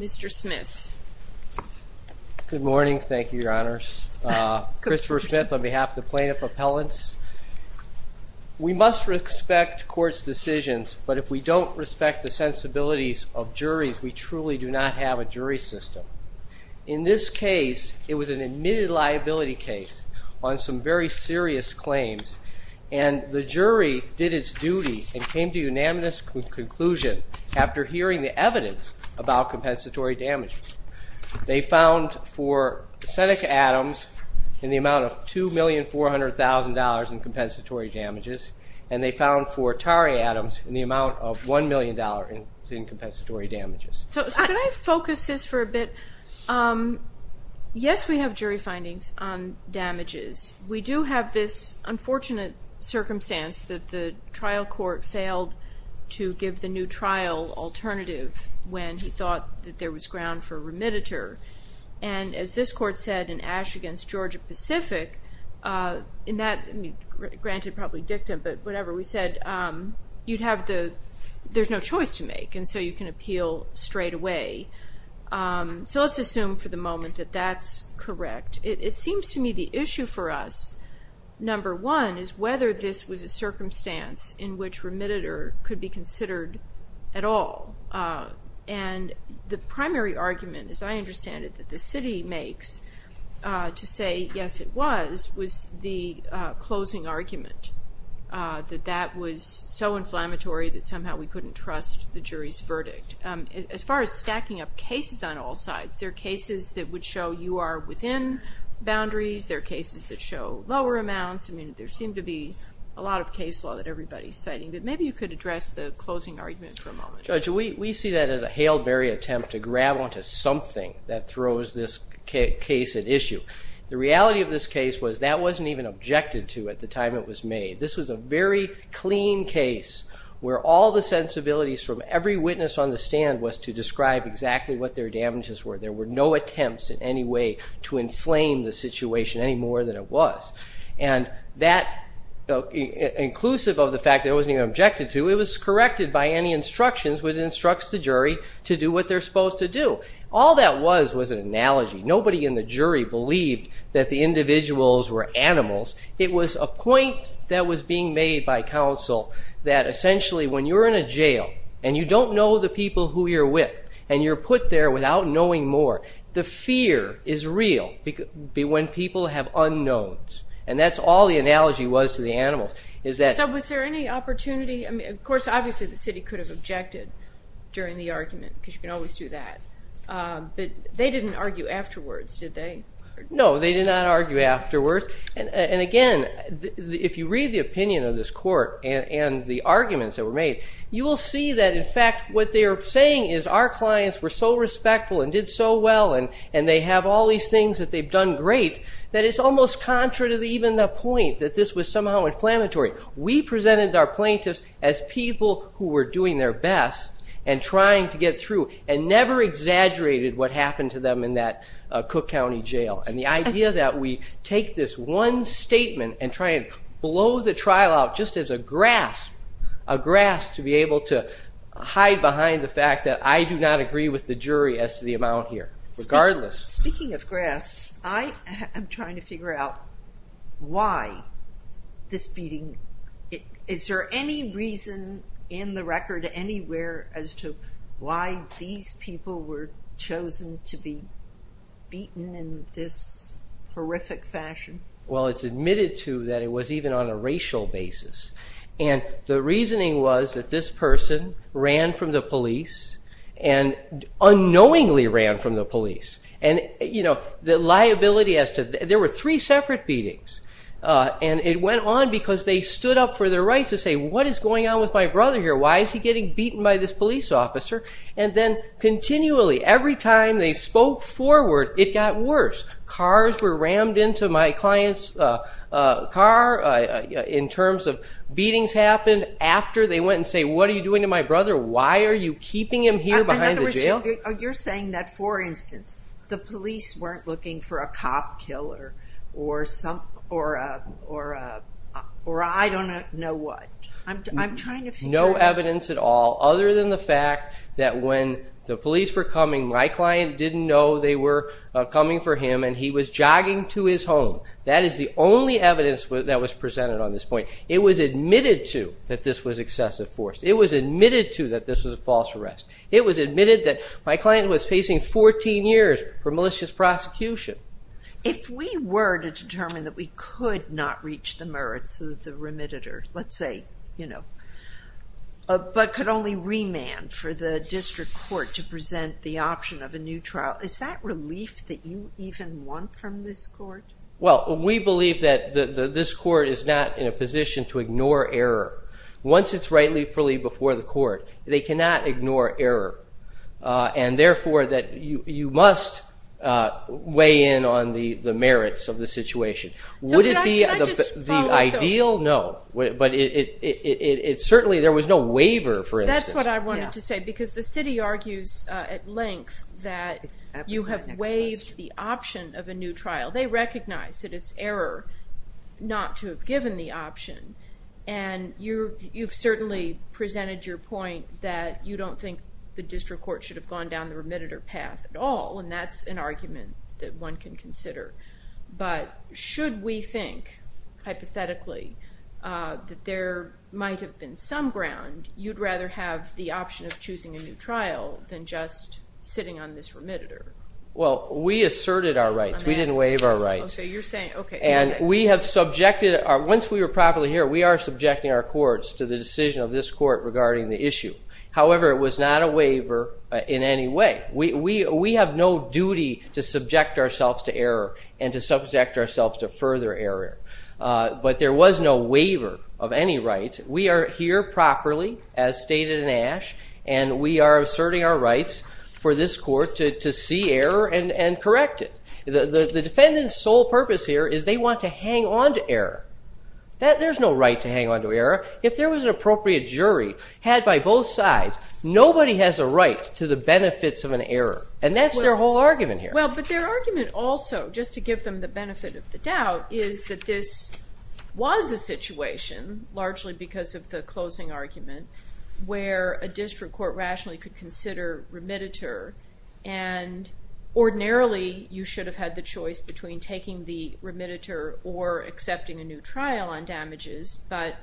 Mr. Smith. Good morning, thank you, Your Honors. Christopher Smith on behalf of the plaintiff appellants. We must respect court's decisions, but if we don't respect the sensibilities of juries, we truly do not have a jury system. In this case, it was an admitted liability case on some very serious claims, and the jury did its duty and came to unanimous conclusion after hearing the evidence about compensatory damages. They found for Seneca Adams in the amount of $2,400,000 in compensatory damages, and they found for Tari Adams in the amount of $1,000,000 in compensatory damages. So can I focus this for a bit? Yes, we have jury findings on damages. We do have this thought that there was ground for remitter, and as this court said in Ash v. Georgia Pacific, in that, granted probably dictum, but whatever, we said you'd have the, there's no choice to make, and so you can appeal straight away. So let's assume for the moment that that's correct. It seems to me the issue for us, number one, is whether this was a circumstance in which remitter could be considered at all, and the primary argument, as I understand it, that the city makes to say yes it was, was the closing argument, that that was so inflammatory that somehow we couldn't trust the jury's verdict. As far as stacking up cases on all sides, there are cases that would show you are within boundaries. There are cases that show lower amounts. I mean, there could address the closing argument for a moment. Judge, we see that as a Hale-Berry attempt to grab onto something that throws this case at issue. The reality of this case was that wasn't even objected to at the time it was made. This was a very clean case where all the sensibilities from every witness on the stand was to describe exactly what their damages were. There were no attempts in any way to inflame the situation any more than it was, and that, inclusive of the fact there wasn't even objected to, it was corrected by any instructions which instructs the jury to do what they're supposed to do. All that was was an analogy. Nobody in the jury believed that the individuals were animals. It was a point that was being made by counsel that essentially when you're in a jail, and you don't know the people who you're with, and you're put there without knowing more, the fear is real when people have unknowns, and that's all the analogy was to the animals. So was there any opportunity, of course obviously the city could have objected during the argument, because you can always do that, but they didn't argue afterwards, did they? No, they did not argue afterwards, and again, if you read the opinion of this court and the arguments that were made, you will see that in fact what they are saying is our clients were so respectful and did so well, and they have all these things that they've done great, that it's almost contrary to even the point that this was somehow inflammatory. We presented our plaintiffs as people who were doing their best and trying to get through, and never exaggerated what happened to them in that Cook County Jail, and the idea that we take this one statement and try and blow the trial out just as a grasp, a grasp to be able to hide behind the fact that I do not agree with the jury as to the amount here, regardless. Speaking of grasps, I'm trying to figure out why this beating, is there any reason in the record anywhere as to why these people were chosen to be beaten in this horrific fashion? Well, it's admitted to that it was even on a racial basis, and the reasoning was that this person ran from the police, and unknowingly ran from the police. There were three separate beatings, and it went on because they stood up for their rights to say, what is going on with my brother here? Why is he getting beaten by this police officer? And then continually, every time they spoke forward, it got worse. Cars were rammed into my client's car in terms of beatings happened. After they went and said, what are you doing to my brother? Why are you keeping him here behind the jail? You're saying that, for instance, the police weren't looking for a cop killer, or I don't know what. No evidence at all, other than the fact that when the police were coming, my client didn't know they were coming for him, and he was jogging to his home. That is the only evidence that was presented on this point. It was admitted to that this was excessive force. It was admitted to that this was a false arrest. It was admitted that my client was facing 14 years for malicious prosecution. If we were to determine that we could not reach the merits of the remitted, let's say, but could only remand for the district court to present the option of a new trial, is that relief that you want from this court? Well, we believe that this court is not in a position to ignore error. Once it's rightfully before the court, they cannot ignore error, and therefore that you must weigh in on the merits of the situation. Would it be the ideal? No, but certainly there was no waiver, for instance. That's what I wanted to say, because the city argues at length that you have waived the option of a new trial. They recognize that it's error not to have given the option, and you've certainly presented your point that you don't think the district court should have gone down the remitted or path at all, and that's an argument that one can consider, but should we think, hypothetically, that there might have been some ground, you'd rather have the option of choosing a new trial than just sitting on this remitted? Well, we asserted our rights. We didn't waive our rights, and we have subjected, once we were properly here, we are subjecting our courts to the decision of this court regarding the issue. However, it was not a waiver in any way. We have no duty to subject ourselves to error and to subject ourselves to further error, but there was no waiver of any rights. We are here properly, as stated in Ash, and we are asserting our rights for this court to see error and correct it. The defendant's sole purpose here is they want to hang on to error. There's no right to hang on to error. If there was an appropriate jury, had by both sides, nobody has a right to the benefits of an error, and that's their whole argument here. Well, but their argument also, just to give them the benefit of the doubt, is that this was a situation, largely because of the closing argument, where a district court rationally could consider remittitor, and ordinarily, you should have had the choice between taking the remittitor or accepting a new trial on damages, but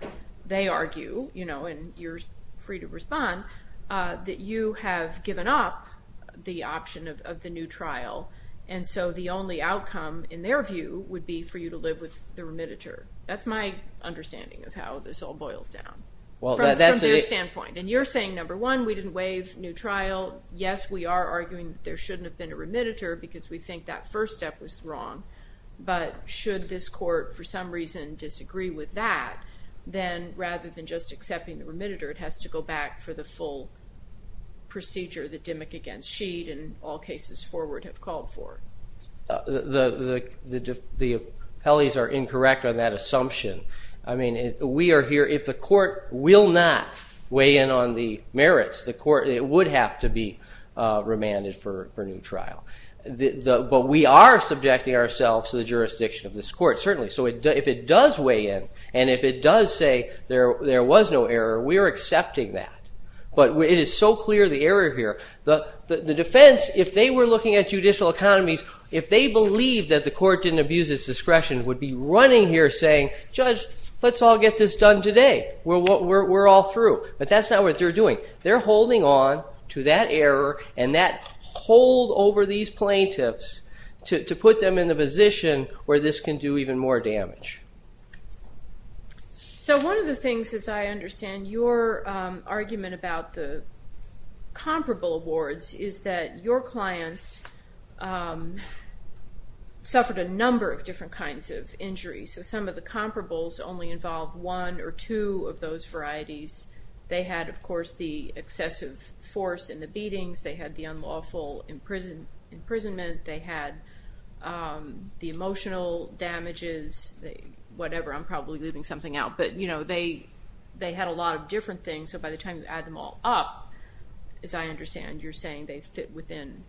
they argue, you know, and you're free to respond, that you have given up the option of the new trial, and so the only outcome, in their view, would be for you to live with the remittitor. That's my understanding of how this all boils down, from their standpoint, and you're saying, number one, we didn't waive new trial. Yes, we are arguing there shouldn't have been a remittitor, because we think that first step was wrong, but should this court, for some reason, disagree with that, then rather than just accepting the remittitor, it has to go back for the full procedure that Dimmick against Sheed, and all cases forward, have called for. The appellees are incorrect on that assumption. I mean, we are here, if the court will not weigh in on the merits, the court, it would have to be remanded for new trial, but we are subjecting ourselves to the jurisdiction of this court, certainly, so if it does weigh in, and if it does say there was no error, we are accepting that, but it is so clear, the error here, the defense, if they were looking at judicial economies, if they believed that the court didn't abuse its discretion, would be running here saying, Judge, let's all get this done today, we're all through, but that's not what they're doing. They're holding on to that error, and that hold over these plaintiffs to put them in the position where this can do even more damage. So one of the things, as I understand your argument about the comparable awards, is that your clients suffered a number of different kinds of injuries, so some of the comparables only involve one or two of those varieties. They had, of course, the excessive force in the beatings, they had the unlawful imprisonment, they had the emotional damages, whatever, I'm probably leaving something out, but they had a lot of different things, so by the time you add them all up, as I understand, you're saying they fit within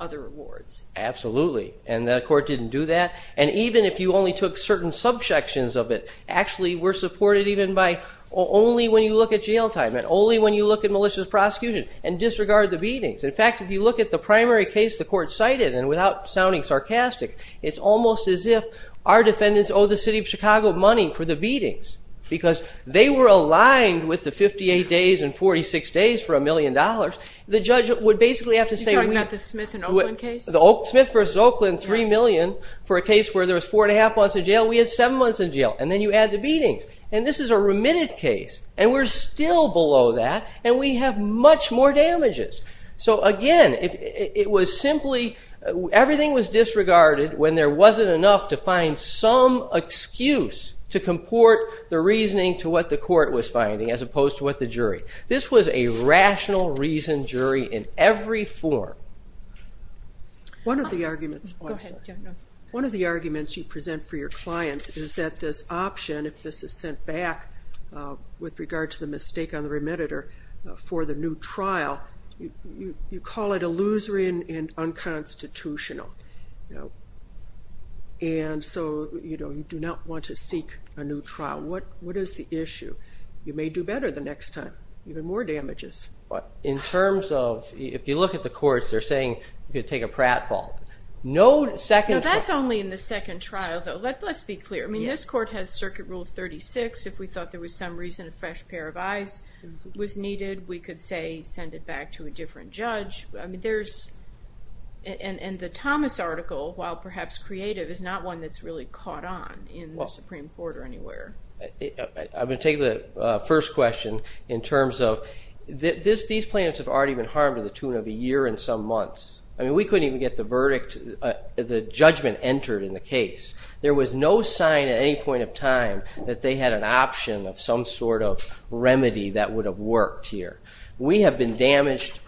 other awards. Absolutely, and the court didn't do that, and even if you only took certain subsections of it, actually we're supported even by only when you look at jail time, and only when you look at malicious prosecution, and disregard the beatings. In fact, if you look at the primary case the court cited, and without sounding sarcastic, it's almost as if our defendants owe the city of Chicago money for the beatings, because they were aligned with the 58 days and 46 days for a million dollars. The judge would basically have to say... You're talking about the Smith and Oakland case? Smith versus Oakland, three million for a case where there was four and a half months in jail, we had seven months in jail, and then you add the beatings, and this is a remitted case, and we're still below that, and we have much more damages. So again, it was simply... Everything was disregarded when there wasn't enough to find some excuse to comport the reasoning to what the court was finding as opposed to what the jury. This was a rational reasoned jury in every form. One of the arguments you present for your clients is that this option, if this is sent back with regard to the mistake on the remitter for the new trial, you call it illusory and unconstitutional. And so you do not want to seek a new trial. What is the issue? You may do better the next time, even more damages. In terms of... If you look at the courts, they're saying you could take a pratfall. No second trial. No, that's only in the second trial, though. Let's be clear. I mean, this court has Circuit Rule 36. If we thought there was some reason a fresh pair of eyes was needed, we could, say, send it back to a different judge. I mean, there's... And the Thomas article, while perhaps creative, is not one that's really caught on in the Supreme Court or anywhere. I'm going to take the first question in terms of... These plaintiffs have already been harmed to the tune of a year and some months. I mean, we couldn't even get the verdict, the judgment entered in the case. There was no sign at any point of time that they had an option of some sort of remedy that would have worked here. We have been damaged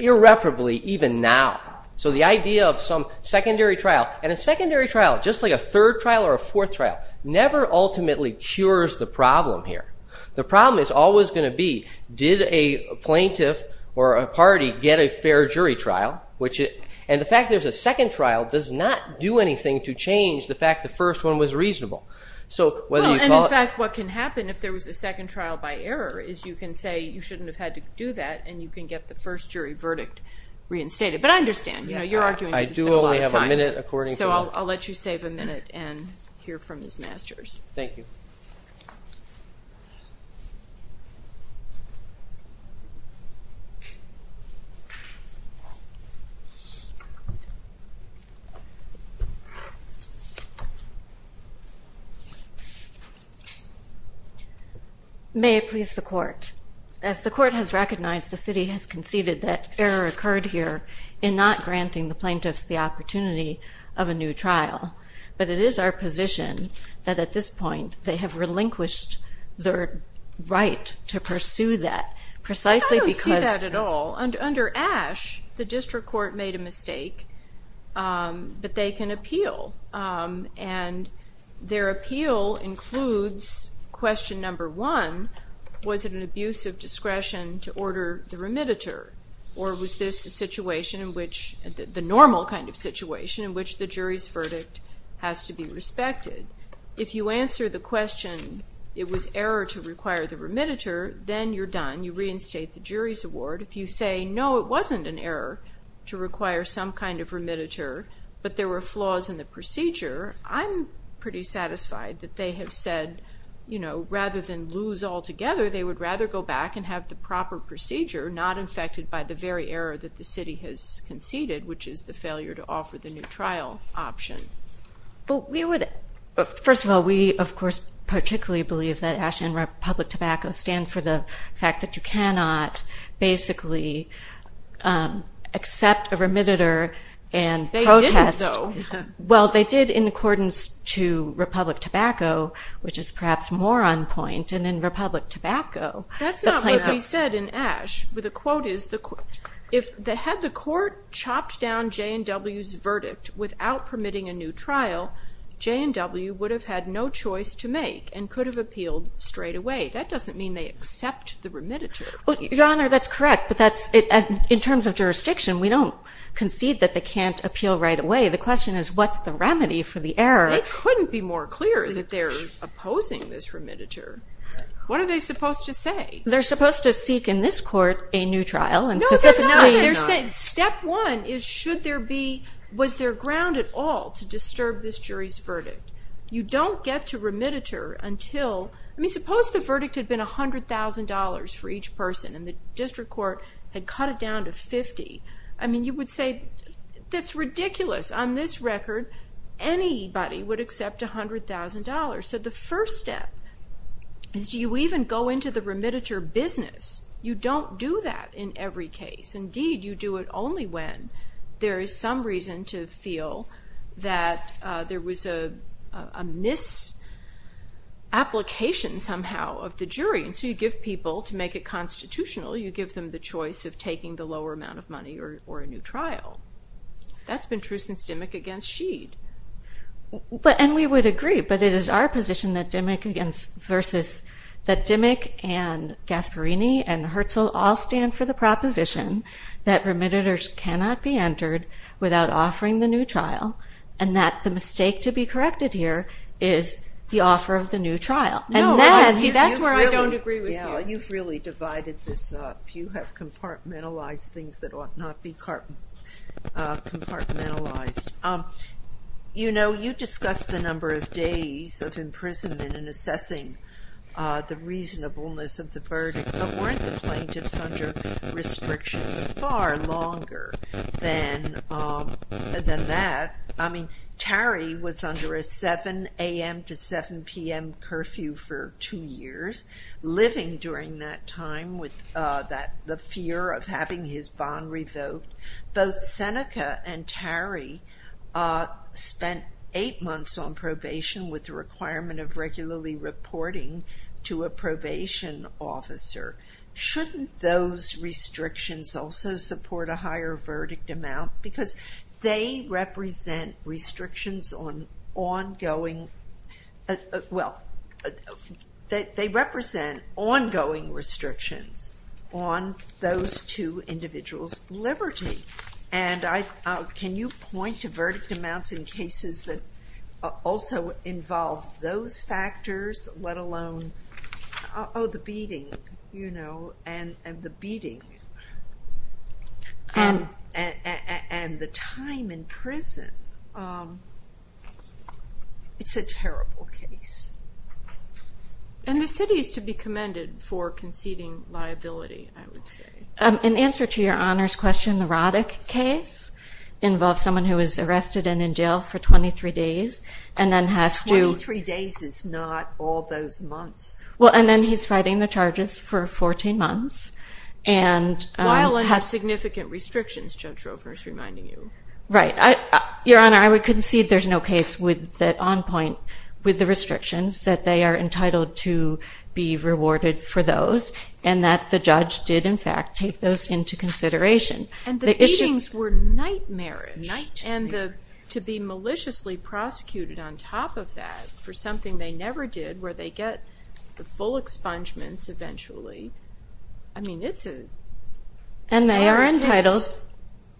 irreparably even now. So the idea of some secondary trial... And a secondary trial, just like a third trial or a fourth trial, never ultimately cures the problem here. The problem is always going to be, did a plaintiff or a party get a fair jury trial? And the fact there's a second trial does not do anything to change the fact the first one was reasonable. And, in fact, what can happen if there was a second trial by error is you can say you shouldn't have had to do that and you can get the first jury verdict reinstated. But I understand. You're arguing that there's been a lot of time. So I'll let you save a minute and hear from Ms. Masters. Thank you. Ms. Masters. May it please the Court. As the Court has recognized, the city has conceded that error occurred here in not granting the plaintiffs the opportunity of a new trial. But it is our position that, at this point, they have relinquished their right to pursue that precisely because... I don't see that at all. Under Ashe, the district court made a mistake, but they can appeal. And their appeal includes question number one, was it an abuse of discretion to order the remediator? Or was this the normal kind of situation in which the jury's verdict has to be respected? If you answer the question it was error to require the remediator, then you're done. You reinstate the jury's award. If you say, no, it wasn't an error to require some kind of remediator, but there were flaws in the procedure, I'm pretty satisfied that they have said, rather than lose altogether, they would rather go back and have the proper procedure, not infected by the very error that the city has conceded, which is the failure to offer the new trial option. First of all, we, of course, particularly believe that Ashe and Republic Tobacco stand for the fact that you cannot basically accept a remediator and protest. They did, though. Well, they did in accordance to Republic Tobacco, which is perhaps more on point. And in Republic Tobacco... That's not what we said in Ashe. The quote is, had the court chopped down J&W's verdict without permitting a new trial, J&W would have had no choice to make and could have appealed straightaway. That doesn't mean they accept the remediator. Your Honor, that's correct, but in terms of jurisdiction, we don't concede that they can't appeal right away. The question is, what's the remedy for the error? They couldn't be more clear that they're opposing this remediator. What are they supposed to say? They're supposed to seek in this court a new trial, and specifically... No, they're not. Step one is, was there ground at all to disturb this jury's verdict? You don't get to remediator until... I mean, suppose the verdict had been $100,000 for each person and the district court had cut it down to $50,000. I mean, you would say, that's ridiculous. On this record, anybody would accept $100,000. So the first step is, do you even go into the remediator business? You don't do that in every case. Indeed, you do it only when there is some reason to feel that there was a misapplication somehow of the jury. And so you give people, to make it constitutional, you give them the choice of taking the lower amount of money or a new trial. That's been true since Dimmick against Sheed. And we would agree, but it is our position that Dimmick and Gasparini and Herzl all stand for the proposition that remediators cannot be entered without offering the new trial, and that the mistake to be corrected here is the offer of the new trial. And that's where I don't agree with you. You've really divided this up. You have compartmentalized things that ought not be compartmentalized. You know, you discussed the number of days of imprisonment in assessing the reasonableness of the verdict, but weren't the plaintiffs under restrictions far longer than that? I mean, Tarry was under a 7 a.m. to 7 p.m. curfew for two years, living during that time with the fear of having his bond revoked. Both Seneca and Tarry spent eight months on probation with the requirement of regularly reporting to a probation officer. Shouldn't those restrictions also support a higher verdict amount? Because they represent restrictions on ongoing restrictions on those two individuals' liberty. Can you point to verdict amounts in cases that also involve those factors, let alone the beating and the time in prison? It's a terrible case. And the city is to be commended for conceding liability, I would say. In answer to Your Honor's question, the Roddick case involves someone who is arrested and in jail for 23 days and then has to... Twenty-three days is not all those months. Well, and then he's fighting the charges for 14 months and has... Violent or significant restrictions, Judge Rovers, reminding you. Right. Your Honor, I would concede there's no case on point with the restrictions, that they are entitled to be rewarded for those and that the judge did, in fact, take those into consideration. And the beatings were nightmarish. Nightmarish. And to be maliciously prosecuted on top of that for something they never did where they get the full expungements eventually, I mean, it's a... And they are entitled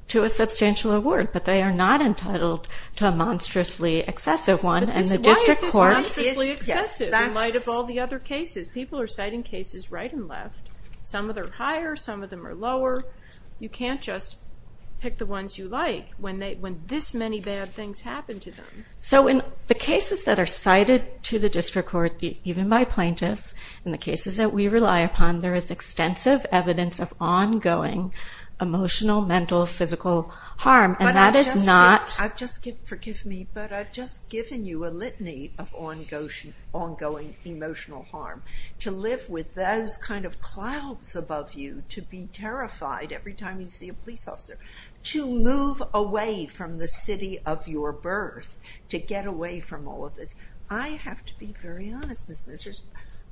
to a substantial award, but they are not entitled to a monstrously excessive one. Why is this monstrously excessive in light of all the other cases? People are citing cases right and left. Some of them are higher. Some of them are lower. You can't just pick the ones you like when this many bad things happen to them. So in the cases that are cited to the district court, even by plaintiffs, in the cases that we rely upon, there is extensive evidence of ongoing emotional, mental, physical harm, and that is not... But I've just given you a litany of ongoing emotional harm. To live with those kind of clouds above you, to be terrified every time you see a police officer, to move away from the city of your birth, to get away from all of this. I have to be very honest, Ms. Mizner,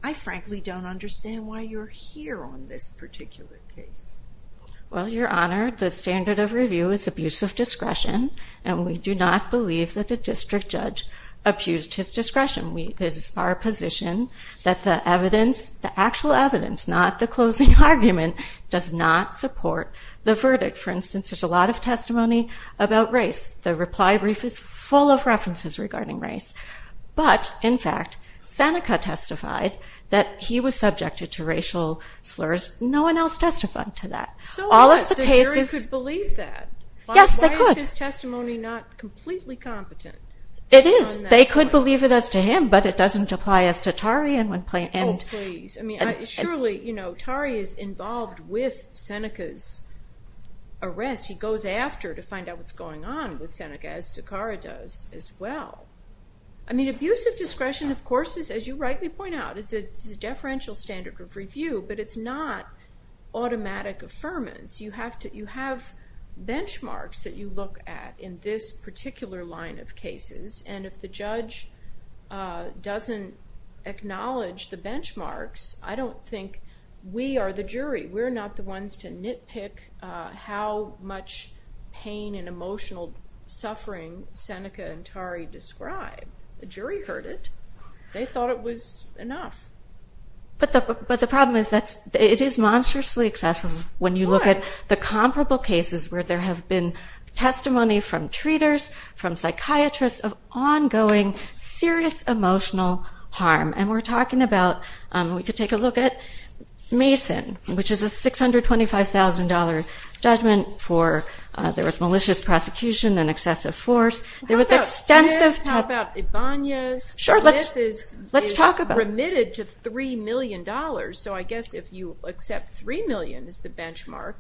I frankly don't understand why you're here on this particular case. Well, Your Honor, the standard of review is abuse of discretion, and we do not believe that the district judge abused his discretion. This is our position that the evidence, the actual evidence, not the closing argument, does not support the verdict. For instance, there's a lot of testimony about race. The reply brief is full of references regarding race. But, in fact, Seneca testified that he was subjected to racial slurs. No one else testified to that. So what, the jury could believe that? Yes, they could. Why is his testimony not completely competent? It is. They could believe it as to him, but it doesn't apply as to Tari. Oh, please. I mean, surely, you know, Tari is involved with Seneca's arrest. He goes after to find out what's going on with Seneca, as Sakara does as well. I mean, abuse of discretion, of course, as you rightly point out, is a deferential standard of review, but it's not automatic affirmance. You have benchmarks that you look at in this particular line of cases, and if the judge doesn't acknowledge the benchmarks, I don't think we are the jury. We're not the ones to nitpick how much pain and emotional suffering Seneca and Tari describe. The jury heard it. They thought it was enough. But the problem is that it is monstrously excessive when you look at the comparable cases where there have been testimony from treaters, from psychiatrists, of ongoing serious emotional harm. And we're talking about, we could take a look at Mason, which is a $625,000 judgment for there was malicious prosecution and excessive force. How about Smith? How about Ibanez? Smith is remitted to $3 million, so I guess if you accept $3 million as the benchmark,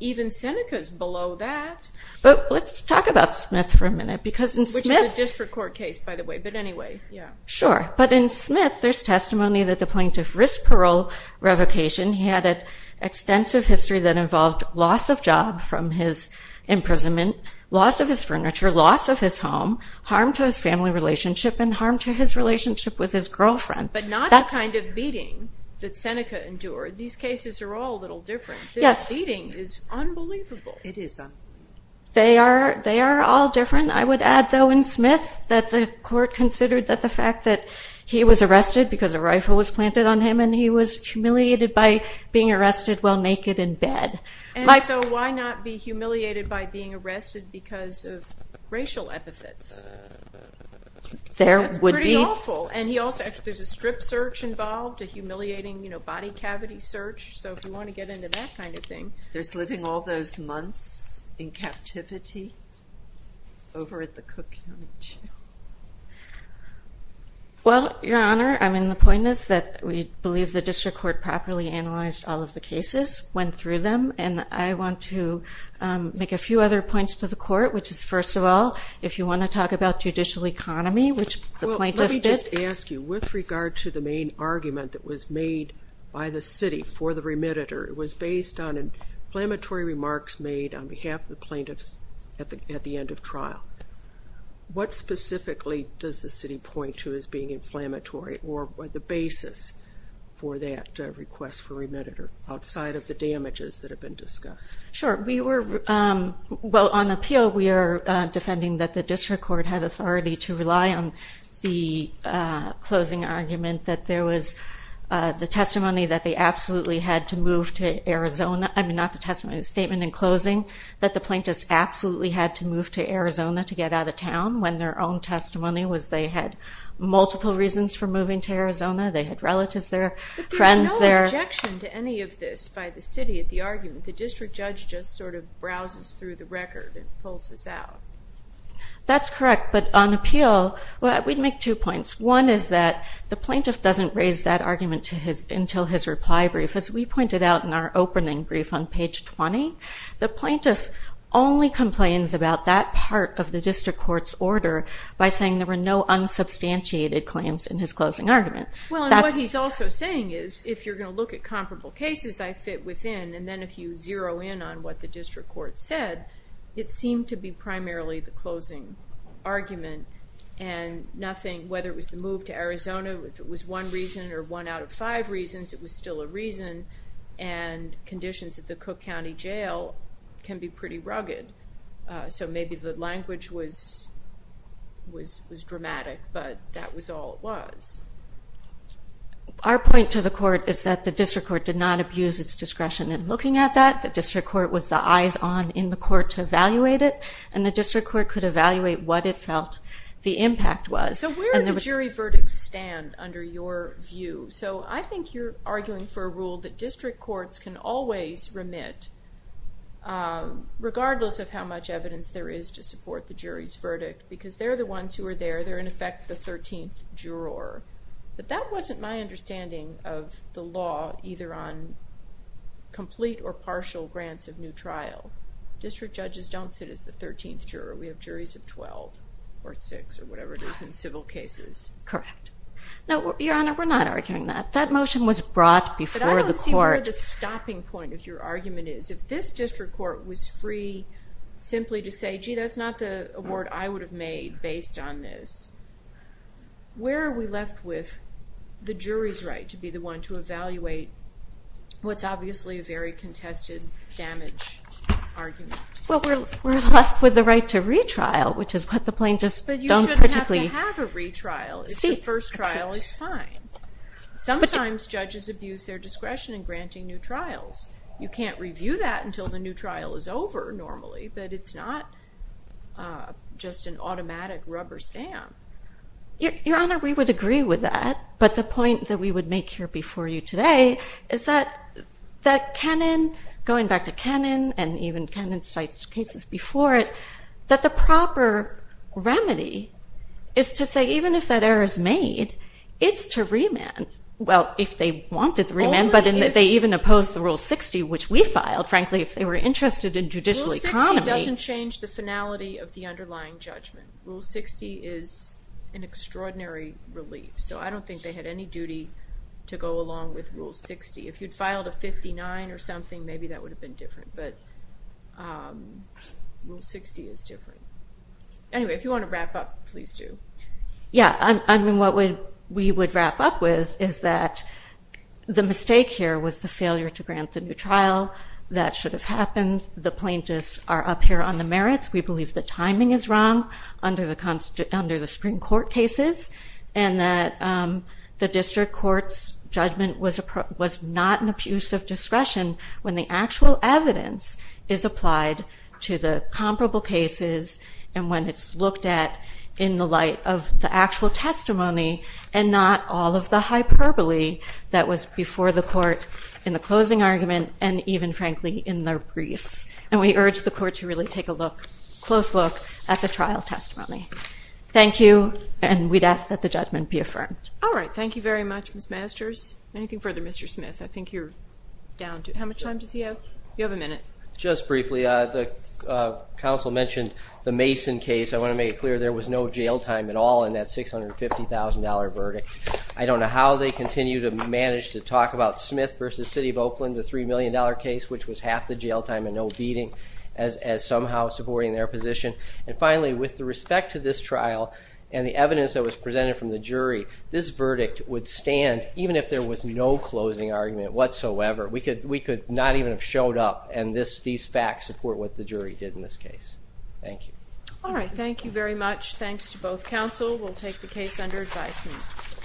even Seneca is below that. But let's talk about Smith for a minute. Which is a district court case, by the way, but anyway. Sure. But in Smith, there's testimony that the plaintiff risked parole revocation. He had an extensive history that involved loss of job from his imprisonment, loss of his furniture, loss of his home, harm to his family relationship, and harm to his relationship with his girlfriend. But not the kind of beating that Seneca endured. These cases are all a little different. Yes. This beating is unbelievable. It is. They are all different. I would add, though, in Smith that the court considered that the fact that he was arrested because a rifle was planted on him and he was humiliated by being arrested while naked in bed. And so why not be humiliated by being arrested because of racial epithets? That's pretty awful. And there's a strip search involved, a humiliating body cavity search. So if you want to get into that kind of thing. There's living all those months in captivity over at the Cook County Jail. Well, Your Honor, the point is that we believe the district court properly analyzed all of the And I want to make a few other points to the court, which is, first of all, if you want to talk about judicial economy, which the plaintiffs did. Well, let me just ask you, with regard to the main argument that was made by the city for the remittitor, it was based on inflammatory remarks made on behalf of the plaintiffs at the end of trial. What specifically does the city point to as being inflammatory or the basis for that request for remittitor, outside of the damages that have been discussed? Sure. Well, on appeal, we are defending that the district court had authority to rely on the closing argument that there was the testimony that they absolutely had to move to Arizona. I mean, not the testimony, the statement in closing that the plaintiffs absolutely had to move to Arizona to get out of town when their own testimony was they had multiple reasons for moving to Arizona. They had relatives there, friends there. There was no objection to any of this by the city at the argument. The district judge just sort of browses through the record and pulls this out. That's correct. But on appeal, we'd make two points. One is that the plaintiff doesn't raise that argument until his reply brief. As we pointed out in our opening brief on page 20, the plaintiff only complains about that part of the district court's order by saying there were no unsubstantiated claims in his closing argument. Well, and what he's also saying is if you're going to look at comparable cases I fit within and then if you zero in on what the district court said, it seemed to be primarily the closing argument and nothing, whether it was the move to Arizona, if it was one reason or one out of five reasons, it was still a reason and conditions at the Cook County Jail can be pretty rugged. So maybe the language was dramatic, but that was all it was. Our point to the court is that the district court did not abuse its discretion in looking at that. The district court was the eyes on in the court to evaluate it, and the district court could evaluate what it felt the impact was. So where do jury verdicts stand under your view? So I think you're arguing for a rule that district courts can always remit, regardless of how much evidence there is to support the jury's verdict, because they're the ones who are there. They're, in effect, the 13th juror. But that wasn't my understanding of the law, either on complete or partial grants of new trial. District judges don't sit as the 13th juror. We have juries of 12 or 6 or whatever it is in civil cases. Correct. No, Your Honor, we're not arguing that. That motion was brought before the court. But I don't see where the stopping point of your argument is. If this district court was free simply to say, gee, that's not the award I would have made based on this, where are we left with the jury's right to be the one to evaluate what's obviously a very contested damage argument? Well, we're left with the right to retrial, which is what the plaintiffs don't particularly seek. But you shouldn't have to have a retrial if the first trial is fine. Sometimes judges abuse their discretion in granting new trials. You can't review that until the new trial is over normally, but it's not just an automatic rubber stamp. Your Honor, we would agree with that. But the point that we would make here before you today is that Kenan, going back to Kenan and even Kenan's case before it, that the proper remedy is to say even if that error is made, it's to remand. Well, if they wanted to remand, but they even opposed the Rule 60, which we filed, frankly, if they were interested in judicial economy. Rule 60 doesn't change the finality of the underlying judgment. Rule 60 is an extraordinary relief. So I don't think they had any duty to go along with Rule 60. If you'd filed a 59 or something, maybe that would have been different. But Rule 60 is different. Anyway, if you want to wrap up, please do. Yeah, I mean, what we would wrap up with is that the mistake here was the failure to grant the new trial. That should have happened. The plaintiffs are up here on the merits. We believe the timing is wrong under the Supreme Court cases and that the district court's judgment was not an abuse of discretion when the actual evidence is applied to the comparable cases and when it's looked at in the light of the actual testimony and not all of the hyperbole that was before the court in the closing argument and even, frankly, in the briefs. And we urge the court to really take a close look at the trial testimony. Thank you, and we'd ask that the judgment be affirmed. All right, thank you very much, Ms. Masters. Anything further, Mr. Smith? I think you're down to it. How much time does he have? You have a minute. Just briefly, the counsel mentioned the Mason case. I want to make it clear there was no jail time at all in that $650,000 verdict. I don't know how they continue to manage to talk about Smith versus City of Oakland, the $3 million case, which was half the jail time and no beating, as somehow supporting their position. And finally, with respect to this trial and the evidence that was presented from the jury, this verdict would stand even if there was no closing argument whatsoever. We could not even have showed up and these facts support what the jury did in this case. Thank you. All right, thank you very much. Thanks to both counsel. We'll take the case under advisement.